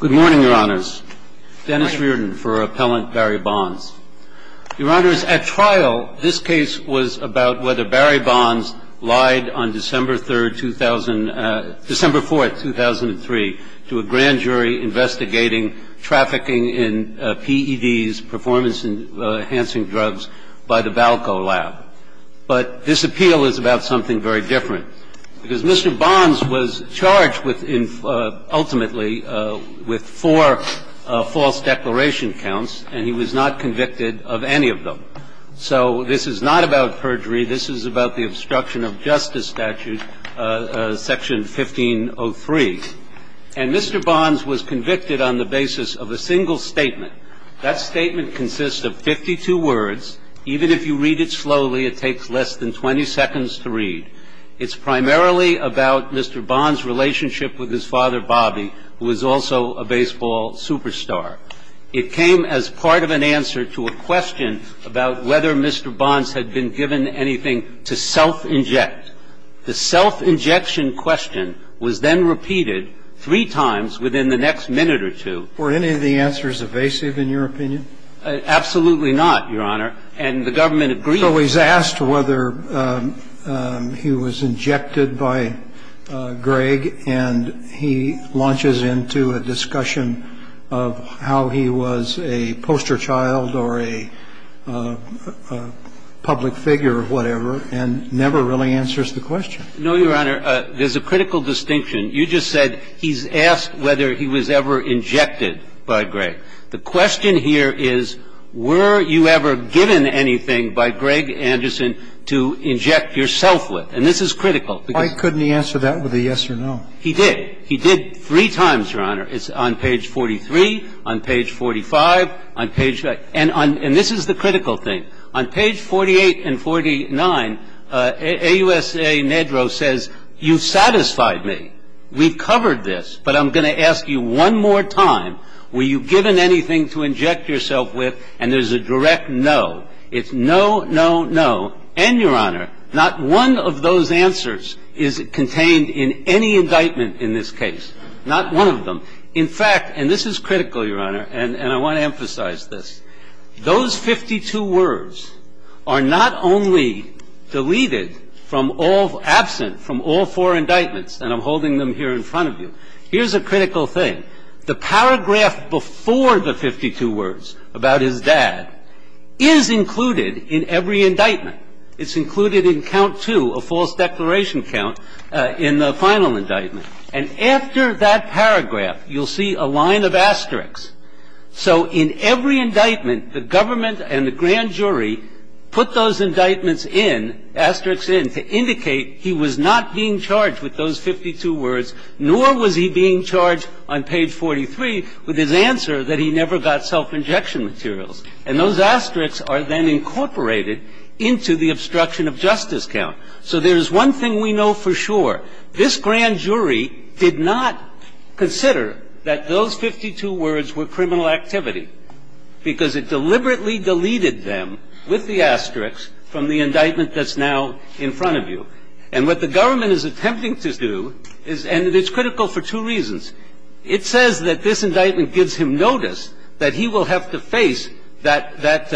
Good morning, Your Honors. Dennis Reardon for Appellant Barry Bonds. Your Honors, at trial, this case was about whether Barry Bonds lied on December 4, 2003, to a grand jury investigating trafficking in PEDs, performance-enhancing drugs, by the Valco lab. But this appeal is about something very different, because Mr. Bonds was charged with, ultimately, what he was charged with. He was charged with four false declaration counts, and he was not convicted of any of them. So this is not about perjury. This is about the obstruction of justice statute, Section 1503. And Mr. Bonds was convicted on the basis of a single statement. That statement consists of 52 words. Even if you read it slowly, it takes less than 20 seconds to read. It's primarily about Mr. Bonds' relationship with his father, Bobby, who was also a baseball superstar. It came as part of an answer to a question about whether Mr. Bonds had been given anything to self-inject. The self-injection question was then repeated three times within the next minute or two. Were any of the answers evasive, in your opinion? Absolutely not, Your Honor. And the government agreed. So he's asked whether he was injected by Greg, and he launches into a discussion of how he was a poster child or a public figure or whatever, and never really answers the question. No, Your Honor. There's a critical distinction. You just said he's asked whether he was ever injected by Greg. The question here is, were you ever given anything by Greg Anderson to inject yourself with? And this is critical. Why couldn't he answer that with a yes or no? He did. He did three times, Your Honor. It's on page 43, on page 45, on page --- and this is the critical thing. On page 48 and 49, AUSA Nedrow says, you've satisfied me. We've covered this, but I'm going to ask you one more time. Were you given anything to inject yourself with? And there's a direct no. It's no, no, no. And, Your Honor, not one of those answers is contained in any indictment in this case, not one of them. In fact, and this is critical, Your Honor, and I want to emphasize this, those 52 words are not only deleted from all of them, absent from all four indictments and I'm holding them here in front of you. Here's a critical thing. The paragraph before the 52 words about his dad is included in every indictment. It's included in count two, a false declaration count, in the final indictment. And after that paragraph, you'll see a line of asterisks. So in every indictment, the government and the grand jury put those indictments in, asterisks in, to indicate he was not being charged with those 52 words, nor was he being charged on page 43 with his answer that he never got self-injection materials. And those asterisks are then incorporated into the obstruction of justice count. So there's one thing we know for sure. This grand jury did not consider that those 52 words were criminal activity because it deliberately deleted them with the asterisks from the indictment that's now in front of you. And what the government is attempting to do is, and it's critical for two reasons. It says that this indictment gives him notice that he will have to face that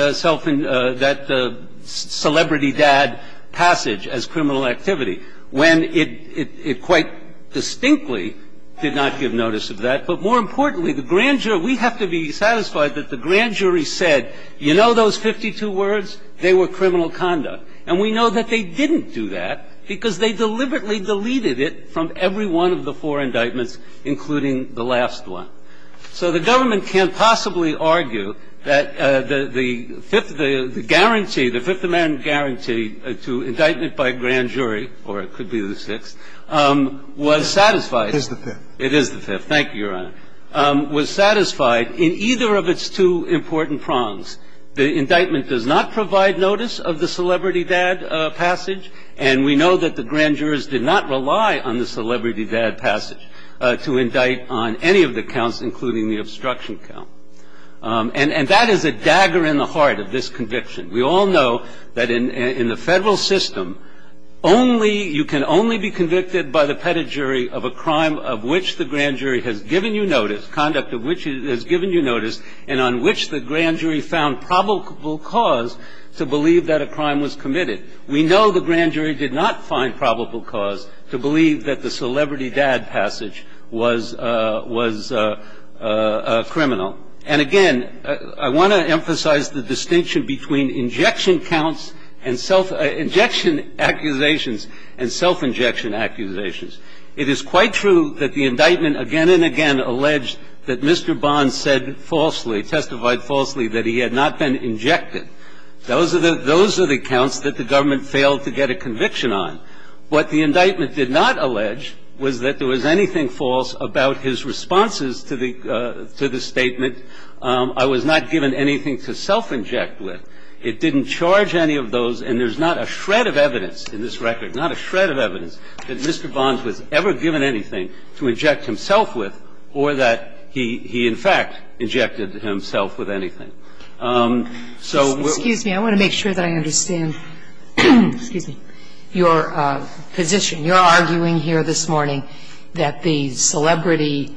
celebrity dad passage as criminal activity when it quite distinctly did not give notice of that. But more importantly, the grand jury, we have to be satisfied that the grand jury said, you know those 52 words? They were criminal conduct. And we know that they didn't do that because they deliberately deleted it from every one of the four indictments, including the last one. So the government can't possibly argue that the fifth, the guarantee, the Fifth Amendment guarantee to indictment by grand jury, or it could be the sixth, was satisfied. It is the fifth. Thank you, Your Honor. Was satisfied in either of its two important prongs. The indictment does not provide notice of the celebrity dad passage, and we know that the grand jurors did not rely on the celebrity dad passage to indict on any of the counts, including the obstruction count. And that is a dagger in the heart of this conviction. We all know that in the Federal system, only, you can only be convicted by the pedigree of a crime of which the grand jury has given you notice, conduct of which it has given you notice, and on which the grand jury found probable cause to believe that a crime was committed. We know the grand jury did not find probable cause to believe that the celebrity dad passage was criminal. And again, I want to emphasize the distinction between injection counts and self – injection accusations and self-injection accusations. It is quite true that the indictment again and again alleged that Mr. Bond said falsely, testified falsely that he had not been injected. Those are the – those are the counts that the government failed to get a conviction on. What the indictment did not allege was that there was anything false about his responses to the – to the statement, I was not given anything to self-inject with. It didn't charge any of those, and there's not a shred of evidence in this record, not a shred of evidence that Mr. Bonds was ever given anything to inject himself with or that he in fact injected himself with anything. So we're – Excuse me. I want to make sure that I understand your position. You're arguing here this morning that the celebrity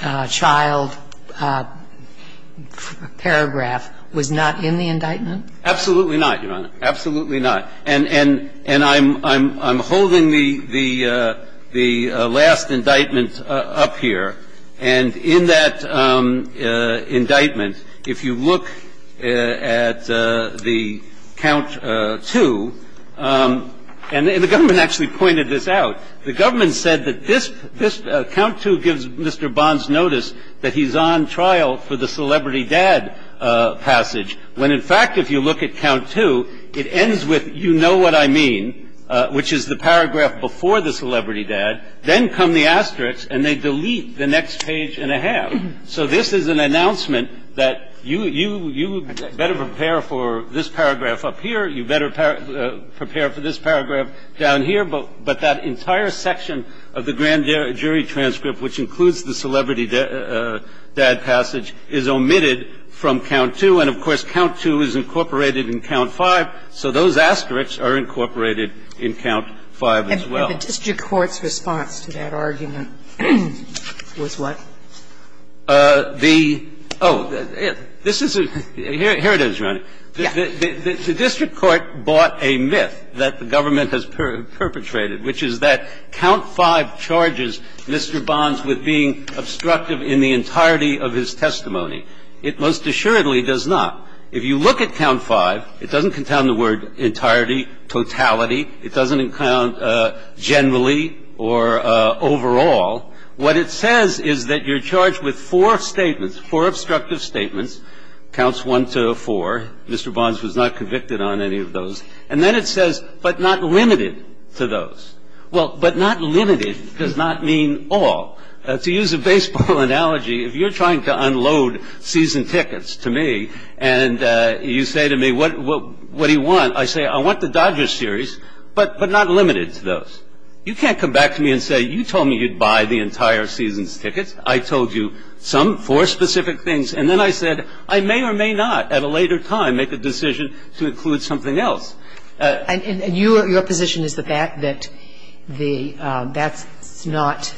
child paragraph was not in the indictment? Absolutely not, Your Honor. Absolutely not. And I'm holding the last indictment up here. And in that indictment, if you look at the count two – and the government actually pointed this out. The government said that this count two gives Mr. Bonds notice that he's on trial for the celebrity dad passage, when in fact if you look at count two, it ends with you know what I mean, which is the paragraph before the celebrity dad. Then come the asterisks, and they delete the next page and a half. So this is an announcement that you better prepare for this paragraph up here. You better prepare for this paragraph down here. But that entire section of the grand jury transcript, which includes the celebrity dad passage, is omitted from count two. And of course, count two is incorporated in count five. So those asterisks are incorporated in count five as well. And the district court's response to that argument was what? The – oh, this is a – here it is, Your Honor. Yes. The district court bought a myth that the government has perpetrated, which is that count five charges Mr. Bonds with being obstructive in the entirety of his testimony. It most assuredly does not. If you look at count five, it doesn't confound the word entirety, totality. It doesn't confound generally or overall. What it says is that you're charged with four statements, four obstructive statements, counts one to four. Mr. Bonds was not convicted on any of those. And then it says, but not limited to those. Well, but not limited does not mean all. To use a baseball analogy, if you're trying to unload season tickets to me and you say to me, what do you want? I say, I want the Dodgers series, but not limited to those. You can't come back to me and say, you told me you'd buy the entire season's And then I said, I may or may not at a later time make a decision to include something else. And your position is that that's not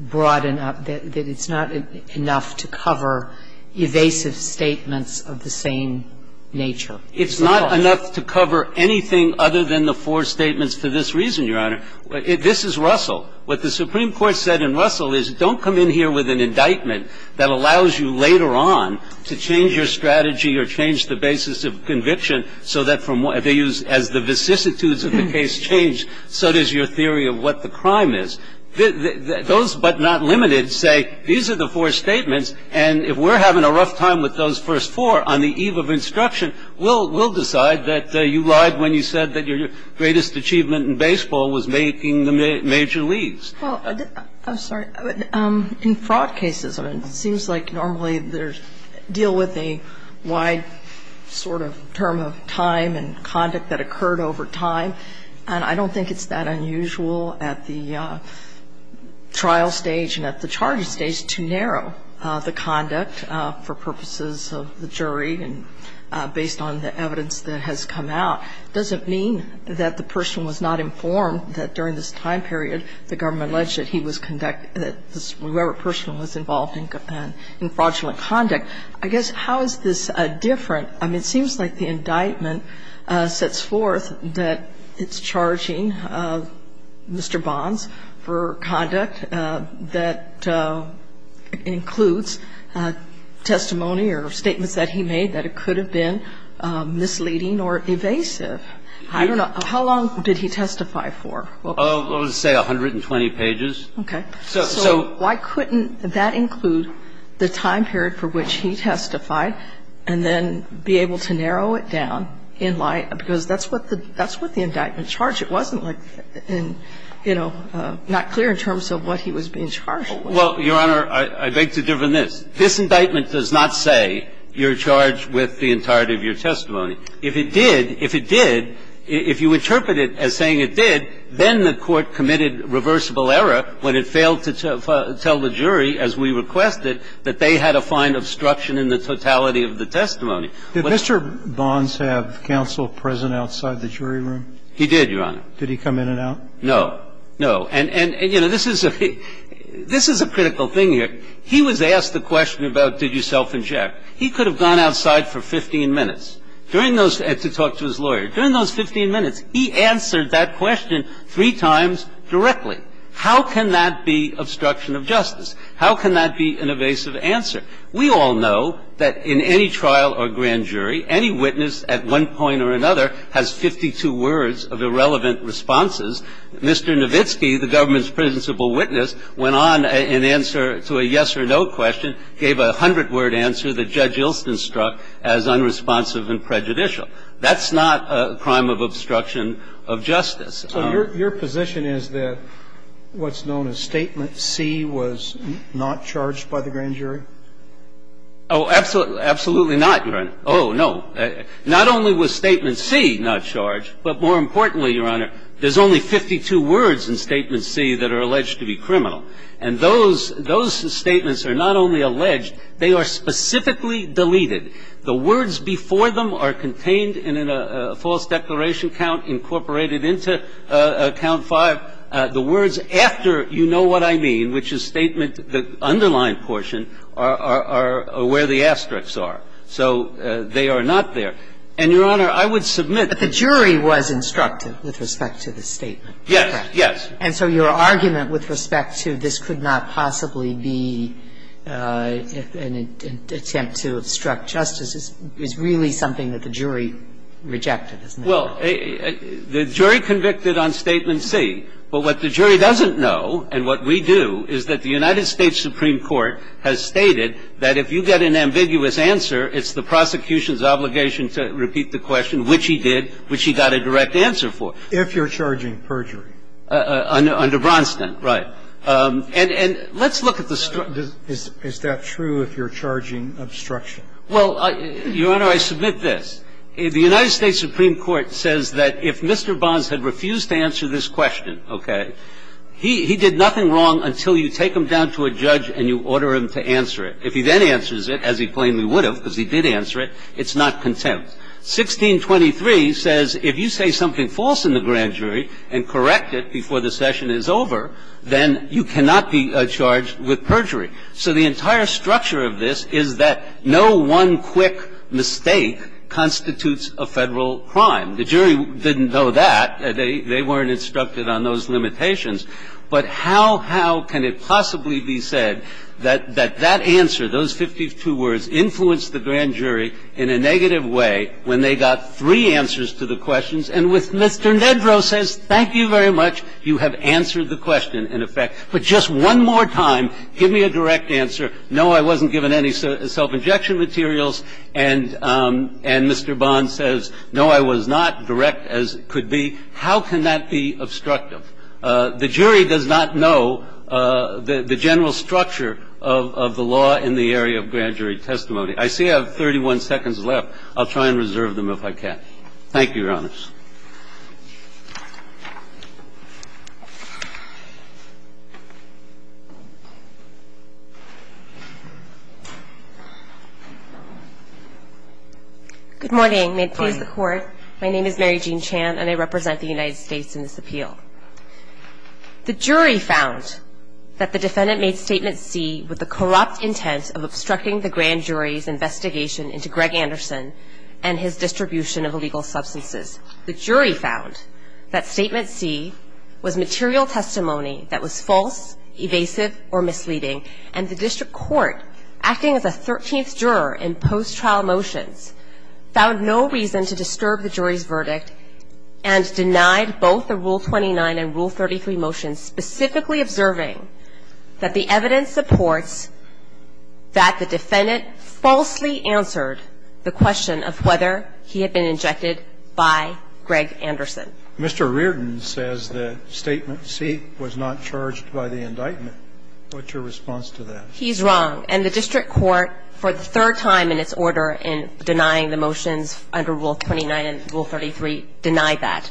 broad enough, that it's not enough to cover evasive statements of the same nature? It's not enough to cover anything other than the four statements for this reason, Your Honor. This is Russell. What the Supreme Court said in Russell is don't come in here with an indictment that allows you later on to change your strategy or change the basis of conviction so that from what they use as the vicissitudes of the case change, so does your theory of what the crime is. Those but not limited say these are the four statements, and if we're having a rough time with those first four on the eve of instruction, we'll decide that you lied when you said that your greatest achievement in baseball was making the major leagues. Well, I'm sorry. In fraud cases, it seems like normally they deal with a wide sort of term of time and conduct that occurred over time, and I don't think it's that unusual at the trial stage and at the charging stage to narrow the conduct for purposes of the jury and based on the evidence that has come out. And so I'm sorry to say, Your Honor, that that doesn't mean that the person was not informed that during this time period the government alleged that he was conducting the ---- that whoever person was involved in fraudulent conduct. I guess how is this different? I mean, it seems like the indictment sets forth that it's charging Mr. Bonds for conduct that includes testimony or statements that he made that it could have been misleading or evasive. I don't know. How long did he testify for? I would say 120 pages. Okay. So why couldn't that include the time period for which he testified and then be able to narrow it down in light of ---- because that's what the indictment charged. It wasn't like in, you know, not clear in terms of what he was being charged. Well, Your Honor, I beg to differ on this. This indictment does not say you're charged with the entirety of your testimony. If it did, if it did, if you interpret it as saying it did, then the Court committed reversible error when it failed to tell the jury, as we requested, that they had a fine of obstruction in the totality of the testimony. Did Mr. Bonds have counsel present outside the jury room? He did, Your Honor. Did he come in and out? No. No. And, you know, this is a critical thing here. He was asked the question about did you self-inject. He could have gone outside for 15 minutes to talk to his lawyer. During those 15 minutes, he answered that question three times directly. How can that be obstruction of justice? How can that be an evasive answer? We all know that in any trial or grand jury, any witness at one point or another has 52 words of irrelevant responses. Mr. Nowitzki, the government's principal witness, went on in answer to a yes or no question, gave a hundred-word answer that Judge Ilston struck as unresponsive and prejudicial. That's not a crime of obstruction of justice. So your position is that what's known as Statement C was not charged by the grand jury? Oh, absolutely not, Your Honor. Oh, no. Not only was Statement C not charged, but more importantly, Your Honor, there's only 52 words in Statement C that are alleged to be criminal. And those statements are not only alleged, they are specifically deleted. The words before them are contained in a false declaration count incorporated into Count 5. The words after you know what I mean, which is Statement the underlined portion, are where the asterisks are. So they are not there. And, Your Honor, I would submit that the jury was instructive with respect to the statement, correct? Yes, yes. And so your argument with respect to this could not possibly be an attempt to obstruct justice is really something that the jury rejected, isn't it? Well, the jury convicted on Statement C. But what the jury doesn't know, and what we do, is that the United States Supreme Court has stated that if you get an ambiguous answer, it's the prosecution's obligation to repeat the question, which he did, which he got a direct answer for. If you're charging perjury. Under Bronstein. Right. And let's look at the structure. Is that true if you're charging obstruction? Well, Your Honor, I submit this. The United States Supreme Court says that if Mr. Bonds had refused to answer this question, that you should have ordered him to answer it. If he then answers it, as he plainly would have, because he did answer it, it's not contempt. 1623 says if you say something false in the grand jury and correct it before the session is over, then you cannot be charged with perjury. So the entire structure of this is that no one quick mistake constitutes a Federal crime. The jury didn't know that. They weren't instructed on those limitations. But how, how can it possibly be said that that answer, those 52 words, influenced the grand jury in a negative way when they got three answers to the questions and with Mr. Nedrow says, thank you very much, you have answered the question in effect. But just one more time, give me a direct answer. No, I wasn't given any self-injection materials. And Mr. Bonds says, no, I was not direct as could be. How can that be obstructive? The jury does not know the general structure of the law in the area of grand jury testimony. I see I have 31 seconds left. I'll try and reserve them if I can. Thank you, Your Honors. Good morning. May it please the Court. My name is Mary Jean Chan, and I represent the United States in this appeal. The jury found that the defendant made Statement C with the corrupt intent of obstructing the grand jury's investigation into Greg Anderson and his distribution of illegal The jury found that Statement C was material testimony that was false, evasive, or misleading. And the district court, acting as a thirteenth juror in post-trial motions, found no reason to disturb the jury's verdict and denied both the Rule 29 and Rule 33 motions, specifically observing that the evidence supports that the defendant falsely answered the question of whether he had been injected by Greg Anderson. Mr. Reardon says that Statement C was not charged by the indictment. What's your response to that? He's wrong. And the district court, for the third time in its order in denying the motions under Rule 29 and Rule 33, denied that.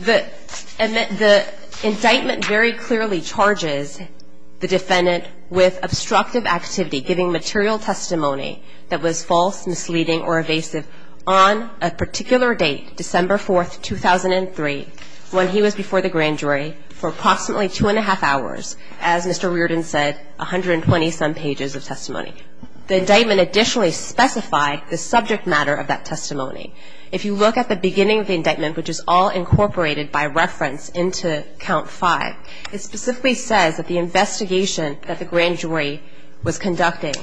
The indictment very clearly charges the defendant with obstructive activity, giving material testimony that was false, misleading, or evasive on a particular date, December 4, 2003, when he was before the grand jury for approximately two and a half hours, as Mr. Reardon said, 120-some pages of testimony. The indictment additionally specified the subject matter of that testimony. If you look at the beginning of the indictment, which is all incorporated by reference into Count 5, it specifically says that the investigation that the grand jury was conducting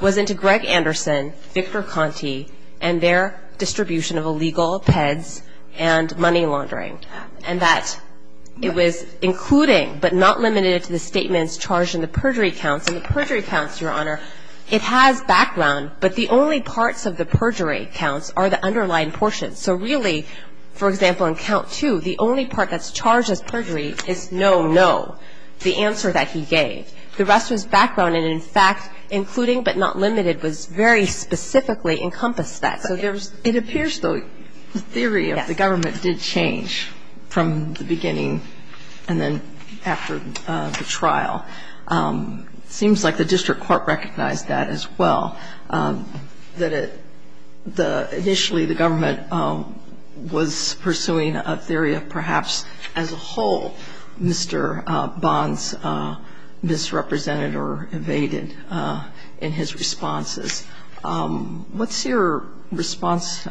was into Greg Anderson, Victor Conti, and their distribution of illegal peds and money laundering, and that it was including but not limited to the statements charged in the perjury counts. In the perjury counts, Your Honor, it has background, but the only parts of the perjury counts are the underlying portions. So really, for example, in Count 2, the only part that's charged as perjury is no, no, the answer that he gave. The rest was background, and in fact, including but not limited was very specifically encompassed that. So there's the theory of the government did change from the beginning and then after the trial. It seems like the district court recognized that as well, that initially the government was pursuing a theory of perhaps as a whole, Mr. Bond's misrepresented or evaded in his responses. What's your response to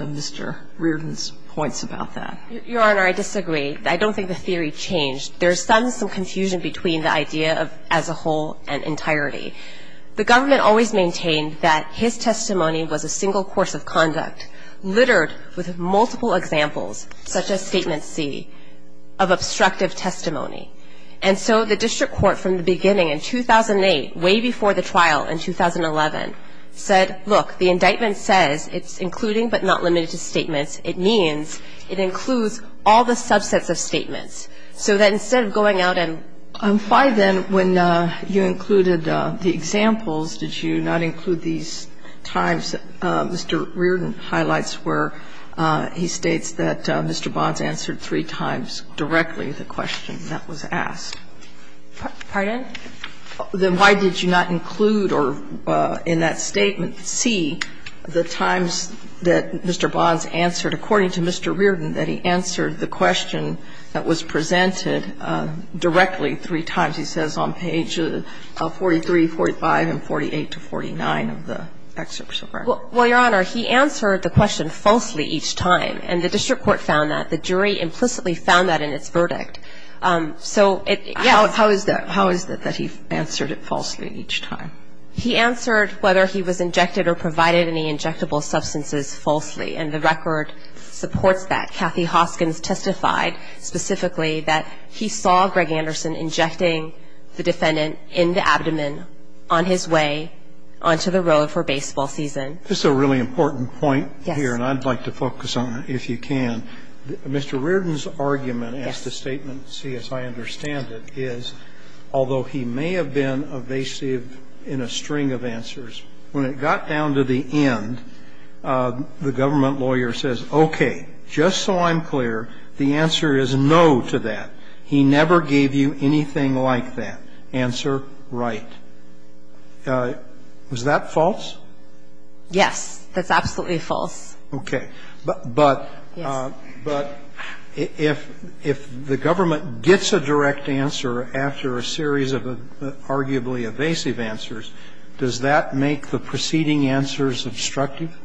Mr. Reardon's points about that? Your Honor, I disagree. I don't think the theory changed. There's some confusion between the idea of as a whole and entirety. The government always maintained that his testimony was a single course of conduct littered with multiple examples, such as Statement C, of obstructive testimony. And so the district court from the beginning in 2008, way before the trial in 2011, said, look, the indictment says it's including but not limited to statements. It means it includes all the subsets of statements. So that instead of going out and ---- Why, then, when you included the examples, did you not include these times Mr. Reardon highlights where he states that Mr. Bond's answered three times directly the question that was asked? Pardon? Then why did you not include or in that statement C, the times that Mr. Bond's answered according to Mr. Reardon, that he answered the question that was presented directly three times? He says on page 43, 45, and 48 to 49 of the excerpt. Well, Your Honor, he answered the question falsely each time, and the district court found that. The jury implicitly found that in its verdict. So it ---- How is that? How is that, that he answered it falsely each time? He answered whether he was injected or provided any injectable substances falsely, and the record supports that. but he was in the position to defend the statement that, as Kathy Hoskins testified specifically, that he saw Greg Anderson injecting the defendant in the abdomen on his way onto the road for baseball season. This is a really important point here, and I'd like to focus on it if you can. Yes. I'm going to ask the statement, see as I understand it, is although he may have been evasive in a string of answers, when it got down to the end, the government lawyer says, okay, just so I'm clear, the answer is no to that. He never gave you anything like that. Answer, right. Was that false? Yes. That's absolutely false. Okay. But if the government gets a direct answer after a series of arguably evasive answers, does that make the preceding answers obstructive?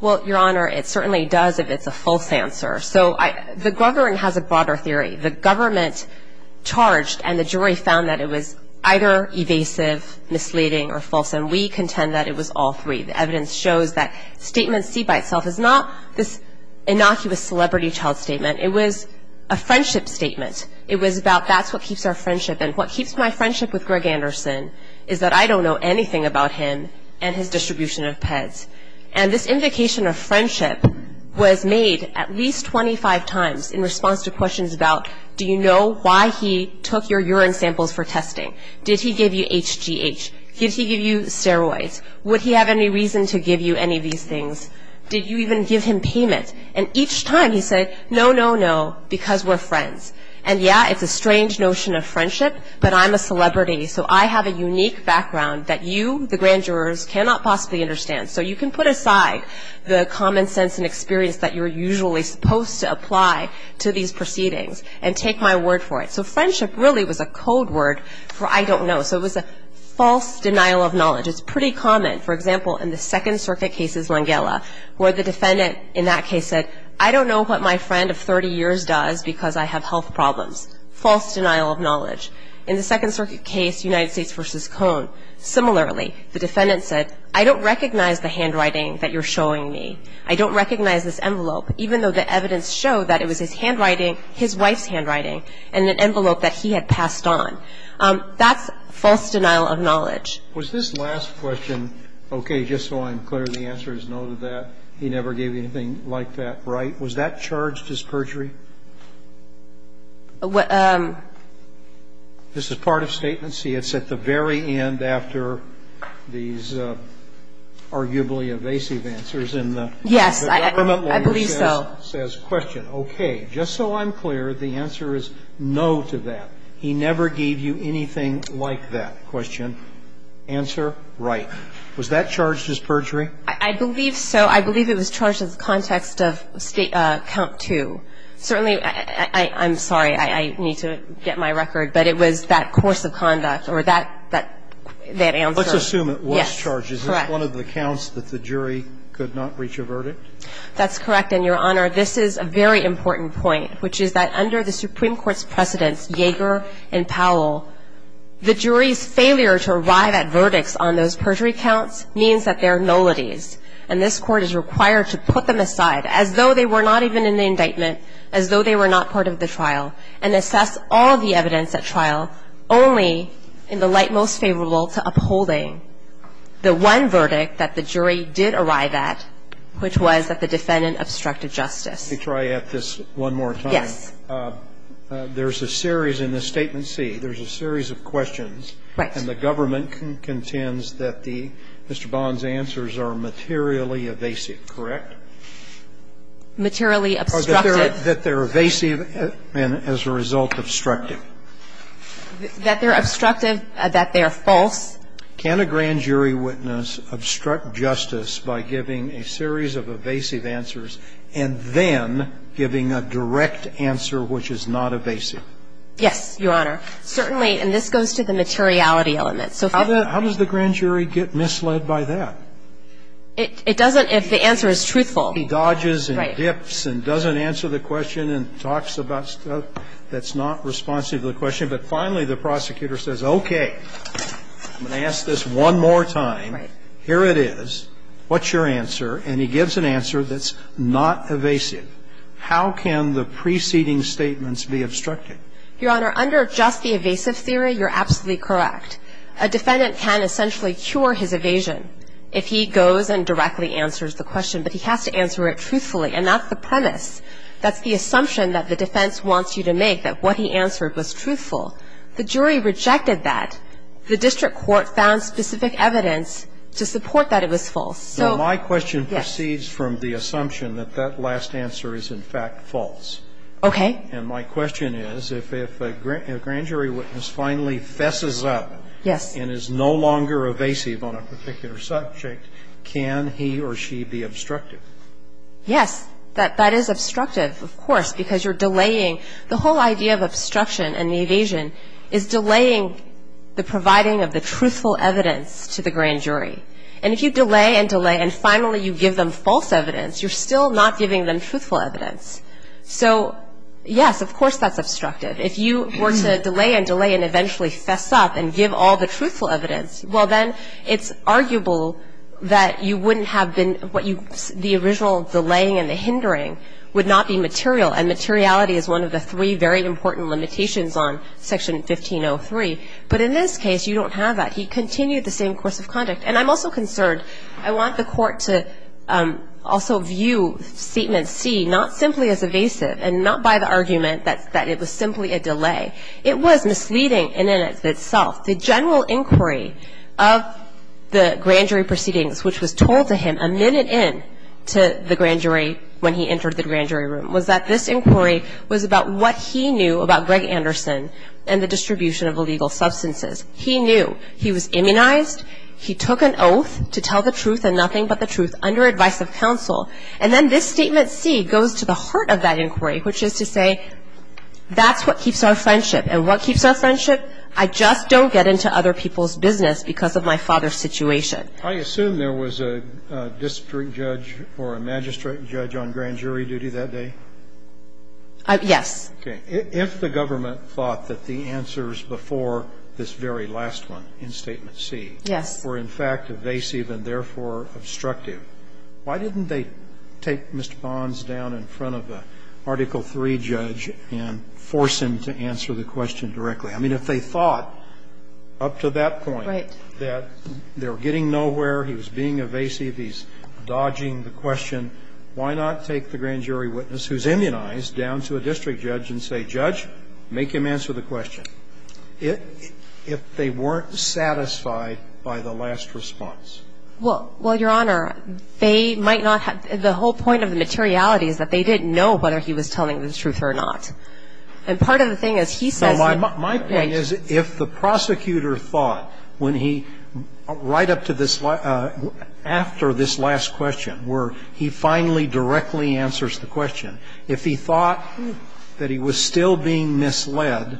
Well, Your Honor, it certainly does if it's a false answer. So the government has a broader theory. The government charged and the jury found that it was either evasive, misleading or false, and we contend that it was all three. The evidence shows that statement C by itself is not this innocuous celebrity child statement. It was a friendship statement. It was about that's what keeps our friendship, and what keeps my friendship with Greg Anderson is that I don't know anything about him and his distribution of pets. And this invocation of friendship was made at least 25 times in response to questions about do you know why he took your urine samples for testing? Did he give you HGH? Did he give you steroids? Would he have any reason to give you any of these things? Did you even give him payment? And each time he said no, no, no, because we're friends. And yeah, it's a strange notion of friendship, but I'm a celebrity, so I have a unique background that you, the grand jurors, cannot possibly understand. So you can put aside the common sense and experience that you're usually supposed to apply to these proceedings and take my word for it. So friendship really was a code word for I don't know. So it was a false denial of knowledge. It's pretty common. For example, in the Second Circuit cases, Langella, where the defendant in that case said, I don't know what my friend of 30 years does because I have health problems. False denial of knowledge. In the Second Circuit case, United States v. Cohn, similarly, the defendant said, I don't recognize the handwriting that you're showing me. I don't recognize this envelope, even though the evidence showed that it was his handwriting, his wife's handwriting, and an envelope that he had passed on. That's false denial of knowledge. said, I don't recognize the handwriting that you're showing me. False denial of knowledge. Was this last question, okay, just so I'm clear, the answer is no to that. He never gave you anything like that, right? Was that charged as perjury? This is part of Statement C. It's at the very end after these arguably evasive answers, and the government lawyer says, question, okay, just so I'm clear, the answer is no to that. He never gave you anything like that. Question, answer, right. Was that charged as perjury? I believe so. I believe it was charged in the context of count two. Certainly, I'm sorry, I need to get my record, but it was that course of conduct or that answer. Let's assume it was charged. Correct. Is it one of the counts that the jury could not reach a verdict? That's correct, and, Your Honor, this is a very important point, which is that under the Supreme Court's precedents, Yeager and Powell, the jury's failure to arrive at verdicts on those perjury counts means that there are nullities, and this Court is required to put them aside as though they were not even in the indictment, as though they were not part of the trial, and assess all the evidence at trial only in the light most favorable to upholding the one verdict that the jury did arrive at, which was that the defendant obstructed justice. Let me try to add this one more time. Yes. There's a series in the Statement C. There's a series of questions. Right. And the government contends that Mr. Bond's answers are materially evasive, correct? Materially obstructive. Or that they're evasive and as a result, obstructive. That they're obstructive, that they are false. Can a grand jury witness obstruct justice by giving a series of evasive answers and then giving a direct answer which is not evasive? Yes, Your Honor. Certainly, and this goes to the materiality element. How does the grand jury get misled by that? It doesn't if the answer is truthful. He dodges and dips and doesn't answer the question and talks about stuff that's not responsive to the question. But finally, the prosecutor says, okay, I'm going to ask this one more time. Right. Here it is. What's your answer? And he gives an answer that's not evasive. How can the preceding statements be obstructed? Your Honor, under just the evasive theory, you're absolutely correct. A defendant can essentially cure his evasion if he goes and directly answers the question. But he has to answer it truthfully. And that's the premise. That's the assumption that the defense wants you to make, that what he answered was truthful. The jury rejected that. The district court found specific evidence to support that it was false. So yes. My question proceeds from the assumption that that last answer is in fact false. Okay. And my question is, if a grand jury witness finally fesses up and is no longer evasive on a particular subject, can he or she be obstructive? Yes. That is obstructive, of course, because you're delaying. The whole idea of obstruction and evasion is delaying the providing of the truthful evidence to the grand jury. And if you delay and delay and finally you give them false evidence, you're still not giving them truthful evidence. So, yes, of course that's obstructive. If you were to delay and delay and eventually fess up and give all the truthful evidence, well, then it's arguable that you wouldn't have been what you the original delaying and the hindering would not be material. And materiality is one of the three very important limitations on Section 1503. But in this case, you don't have that. He continued the same course of conduct. And I'm also concerned. I want the court to also view Statement C not simply as evasive and not by the argument that it was simply a delay. It was misleading in and of itself. The general inquiry of the grand jury proceedings, which was told to him a minute in to the grand jury when he entered the grand jury room, was that this inquiry was about what he knew about Greg Anderson and the distribution of illegal substances. He knew. He was immunized. He took an oath to tell the truth and nothing but the truth under advice of counsel. And then this Statement C goes to the heart of that inquiry, which is to say that's what keeps our friendship. And what keeps our friendship? I just don't get into other people's business because of my father's situation. I assume there was a district judge or a magistrate judge on grand jury duty that day? Yes. Okay. If the government thought that the answers before this very last one in Statement C were in fact evasive and therefore obstructive, why didn't they take Mr. Bonds down in front of an Article III judge and force him to answer the question directly? I mean, if they thought up to that point that they were getting nowhere, he was being evasive, he's dodging the question, why not take the grand jury witness who's immunized down to a district judge and say, Judge, make him answer the question? If they weren't satisfied by the last response. Well, Your Honor, they might not have the whole point of the materiality is that they didn't know whether he was telling the truth or not. And part of the thing is he says it. My point is if the prosecutor thought when he, right up to this, after this last question where he finally directly answers the question, if he thought that he was still being misled,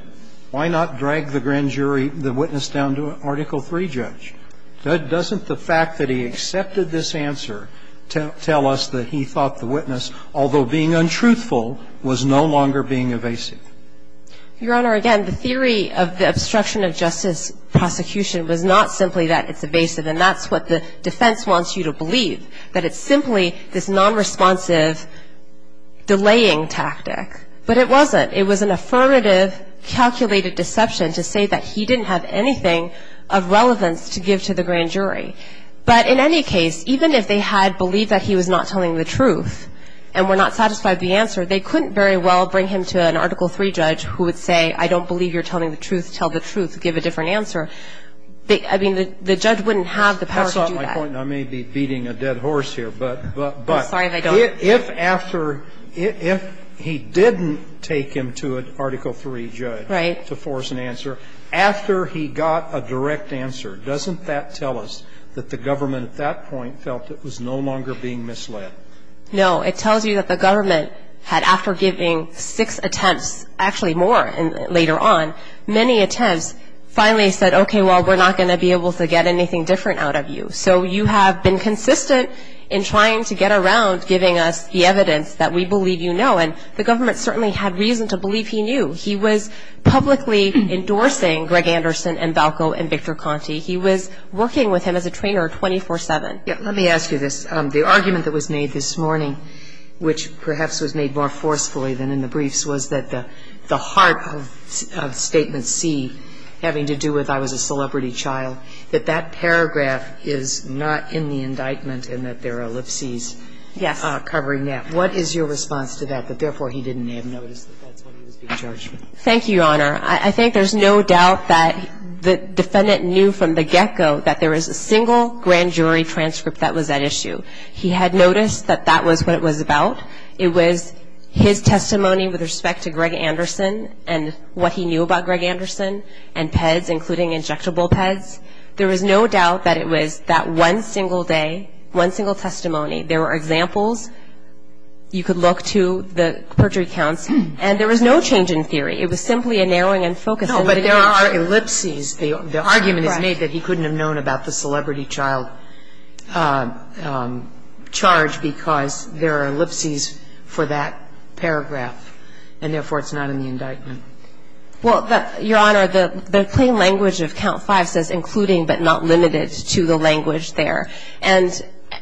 why not drag the grand jury witness down to an Article III judge? Doesn't the fact that he accepted this answer tell us that he thought the witness, although being untruthful, was no longer being evasive? Your Honor, again, the theory of the obstruction of justice prosecution was not simply that it's evasive, and that's what the defense wants you to believe, that it's simply this nonresponsive delaying tactic. But it wasn't. It was an affirmative calculated deception to say that he didn't have anything of relevance to give to the grand jury. But in any case, even if they had believed that he was not telling the truth, and were not satisfied with the answer, they couldn't very well bring him to an Article III judge who would say, I don't believe you're telling the truth, tell the truth, give a different answer. I mean, the judge wouldn't have the power to do that. That's not my point, and I may be beating a dead horse here. I'm sorry if I don't. If after, if he didn't take him to an Article III judge to force an answer, after he got a direct answer, doesn't that tell us that the government at that point felt it was no longer being misled? No. It tells you that the government had, after giving six attempts, actually more later on, many attempts, finally said, okay, well, we're not going to be able to get anything different out of you. So you have been consistent in trying to get around giving us the evidence that we believe you know. And the government certainly had reason to believe he knew. He was publicly endorsing Greg Anderson and Balco and Victor Conti. He was working with him as a trainer 24-7. Let me ask you this. The argument that was made this morning, which perhaps was made more forcefully than in the briefs, was that the heart of Statement C, having to do with I was a defendant, knew from the get-go that there was a single grand jury transcript that was at issue. He had noticed that that was what it was about. It was his testimony with respect to Greg Anderson and what he knew about Greg Anderson and PEDS, including injectable PEDS. And he said that one single day, one single testimony, there were examples you could look to, the perjury counts, and there was no change in theory. It was simply a narrowing in focus. No, but there are ellipses. The argument is made that he couldn't have known about the celebrity child charge because there are ellipses for that paragraph, and therefore it's not in the indictment. Well, Your Honor, the plain language of Count 5 says including but not limited to the language there.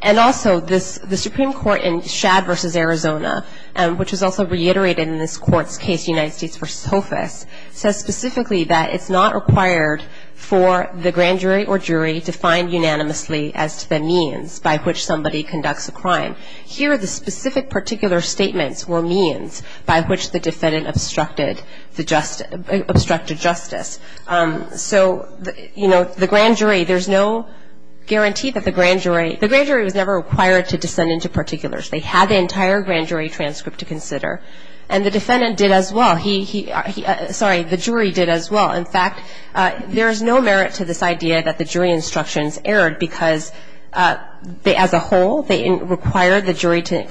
And also, the Supreme Court in Shad v. Arizona, which is also reiterated in this court's case, United States v. Hofus, says specifically that it's not required for the grand jury or jury to find unanimously as to the means by which somebody conducts a crime. Here, the specific particular statements were means by which the defendant obstructed justice. So, you know, the grand jury, there's no guarantee that the grand jury, the grand jury was never required to descend into particulars. They had the entire grand jury transcript to consider. And the defendant did as well. Sorry, the jury did as well. In fact, there is no merit to this idea that the jury instructions erred because as a whole, they required the jury to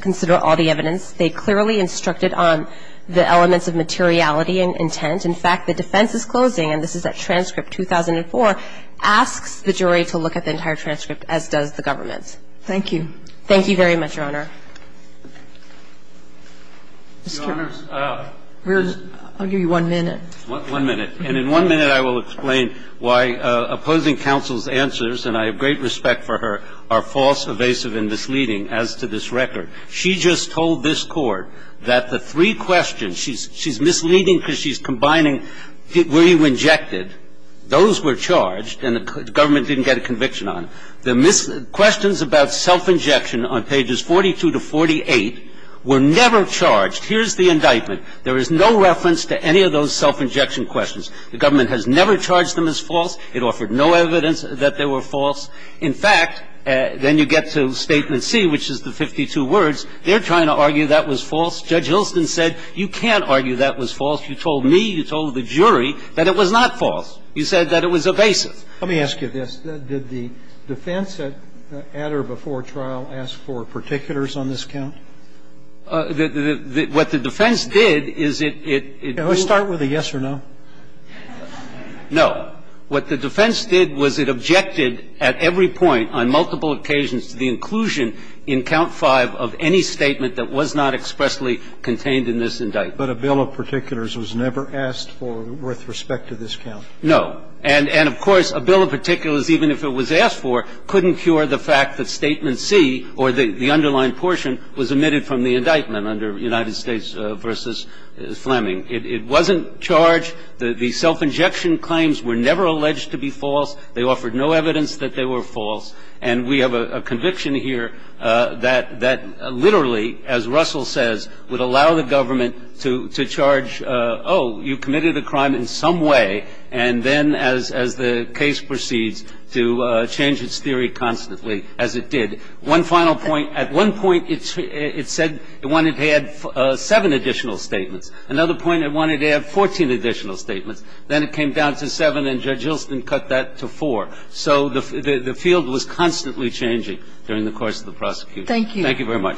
consider all the evidence. They clearly instructed on the elements of materiality and intent. In fact, the defense is closing, and this is that transcript, 2004, asks the jury to look at the entire transcript, as does the government. Thank you. Thank you very much, Your Honor. I'll give you one minute. One minute. And in one minute, I will explain why opposing counsel's answers, and I have great respect for her, are false, evasive, and misleading as to this record. She just told this Court that the three questions, she's misleading because she's combining where you injected. Those were charged, and the government didn't get a conviction on them. The questions about self-injection on pages 42 to 48 were never charged. Here's the indictment. There is no reference to any of those self-injection questions. The government has never charged them as false. It offered no evidence that they were false. In fact, then you get to Statement C, which is the 52 words. They're trying to argue that was false. Judge Hilston said you can't argue that was false. You told me, you told the jury, that it was not false. You said that it was evasive. Let me ask you this. Did the defense at or before trial ask for particulars on this count? What the defense did is it, it, it was. Can we start with a yes or no? No. What the defense did was it objected at every point, on multiple occasions, to the inclusion in Count 5 of any statement that was not expressly contained in this indictment. But a bill of particulars was never asked for with respect to this count? No. And, of course, a bill of particulars, even if it was asked for, couldn't cure the fact that Statement C, or the underlying portion, was omitted from the indictment under United States v. Fleming. It wasn't charged. The self-injection claims were never alleged to be false. They offered no evidence that they were false. And we have a conviction here that literally, as Russell says, would allow the government to, to charge, oh, you committed a crime in some way, and then as, as the case proceeds to change its theory constantly, as it did. One final point. At one point, it said it wanted to add seven additional statements. Another point, it wanted to add 14 additional statements. Then it came down to seven, and Judge Hilston cut that to four. So the, the field was constantly changing during the course of the prosecution. Thank you very much.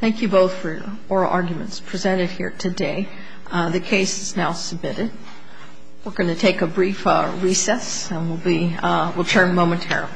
Thank you both for your oral arguments presented here today. The case is now submitted. We're going to take a brief recess, and we'll be, we'll turn momentarily. Thank you. Thank you.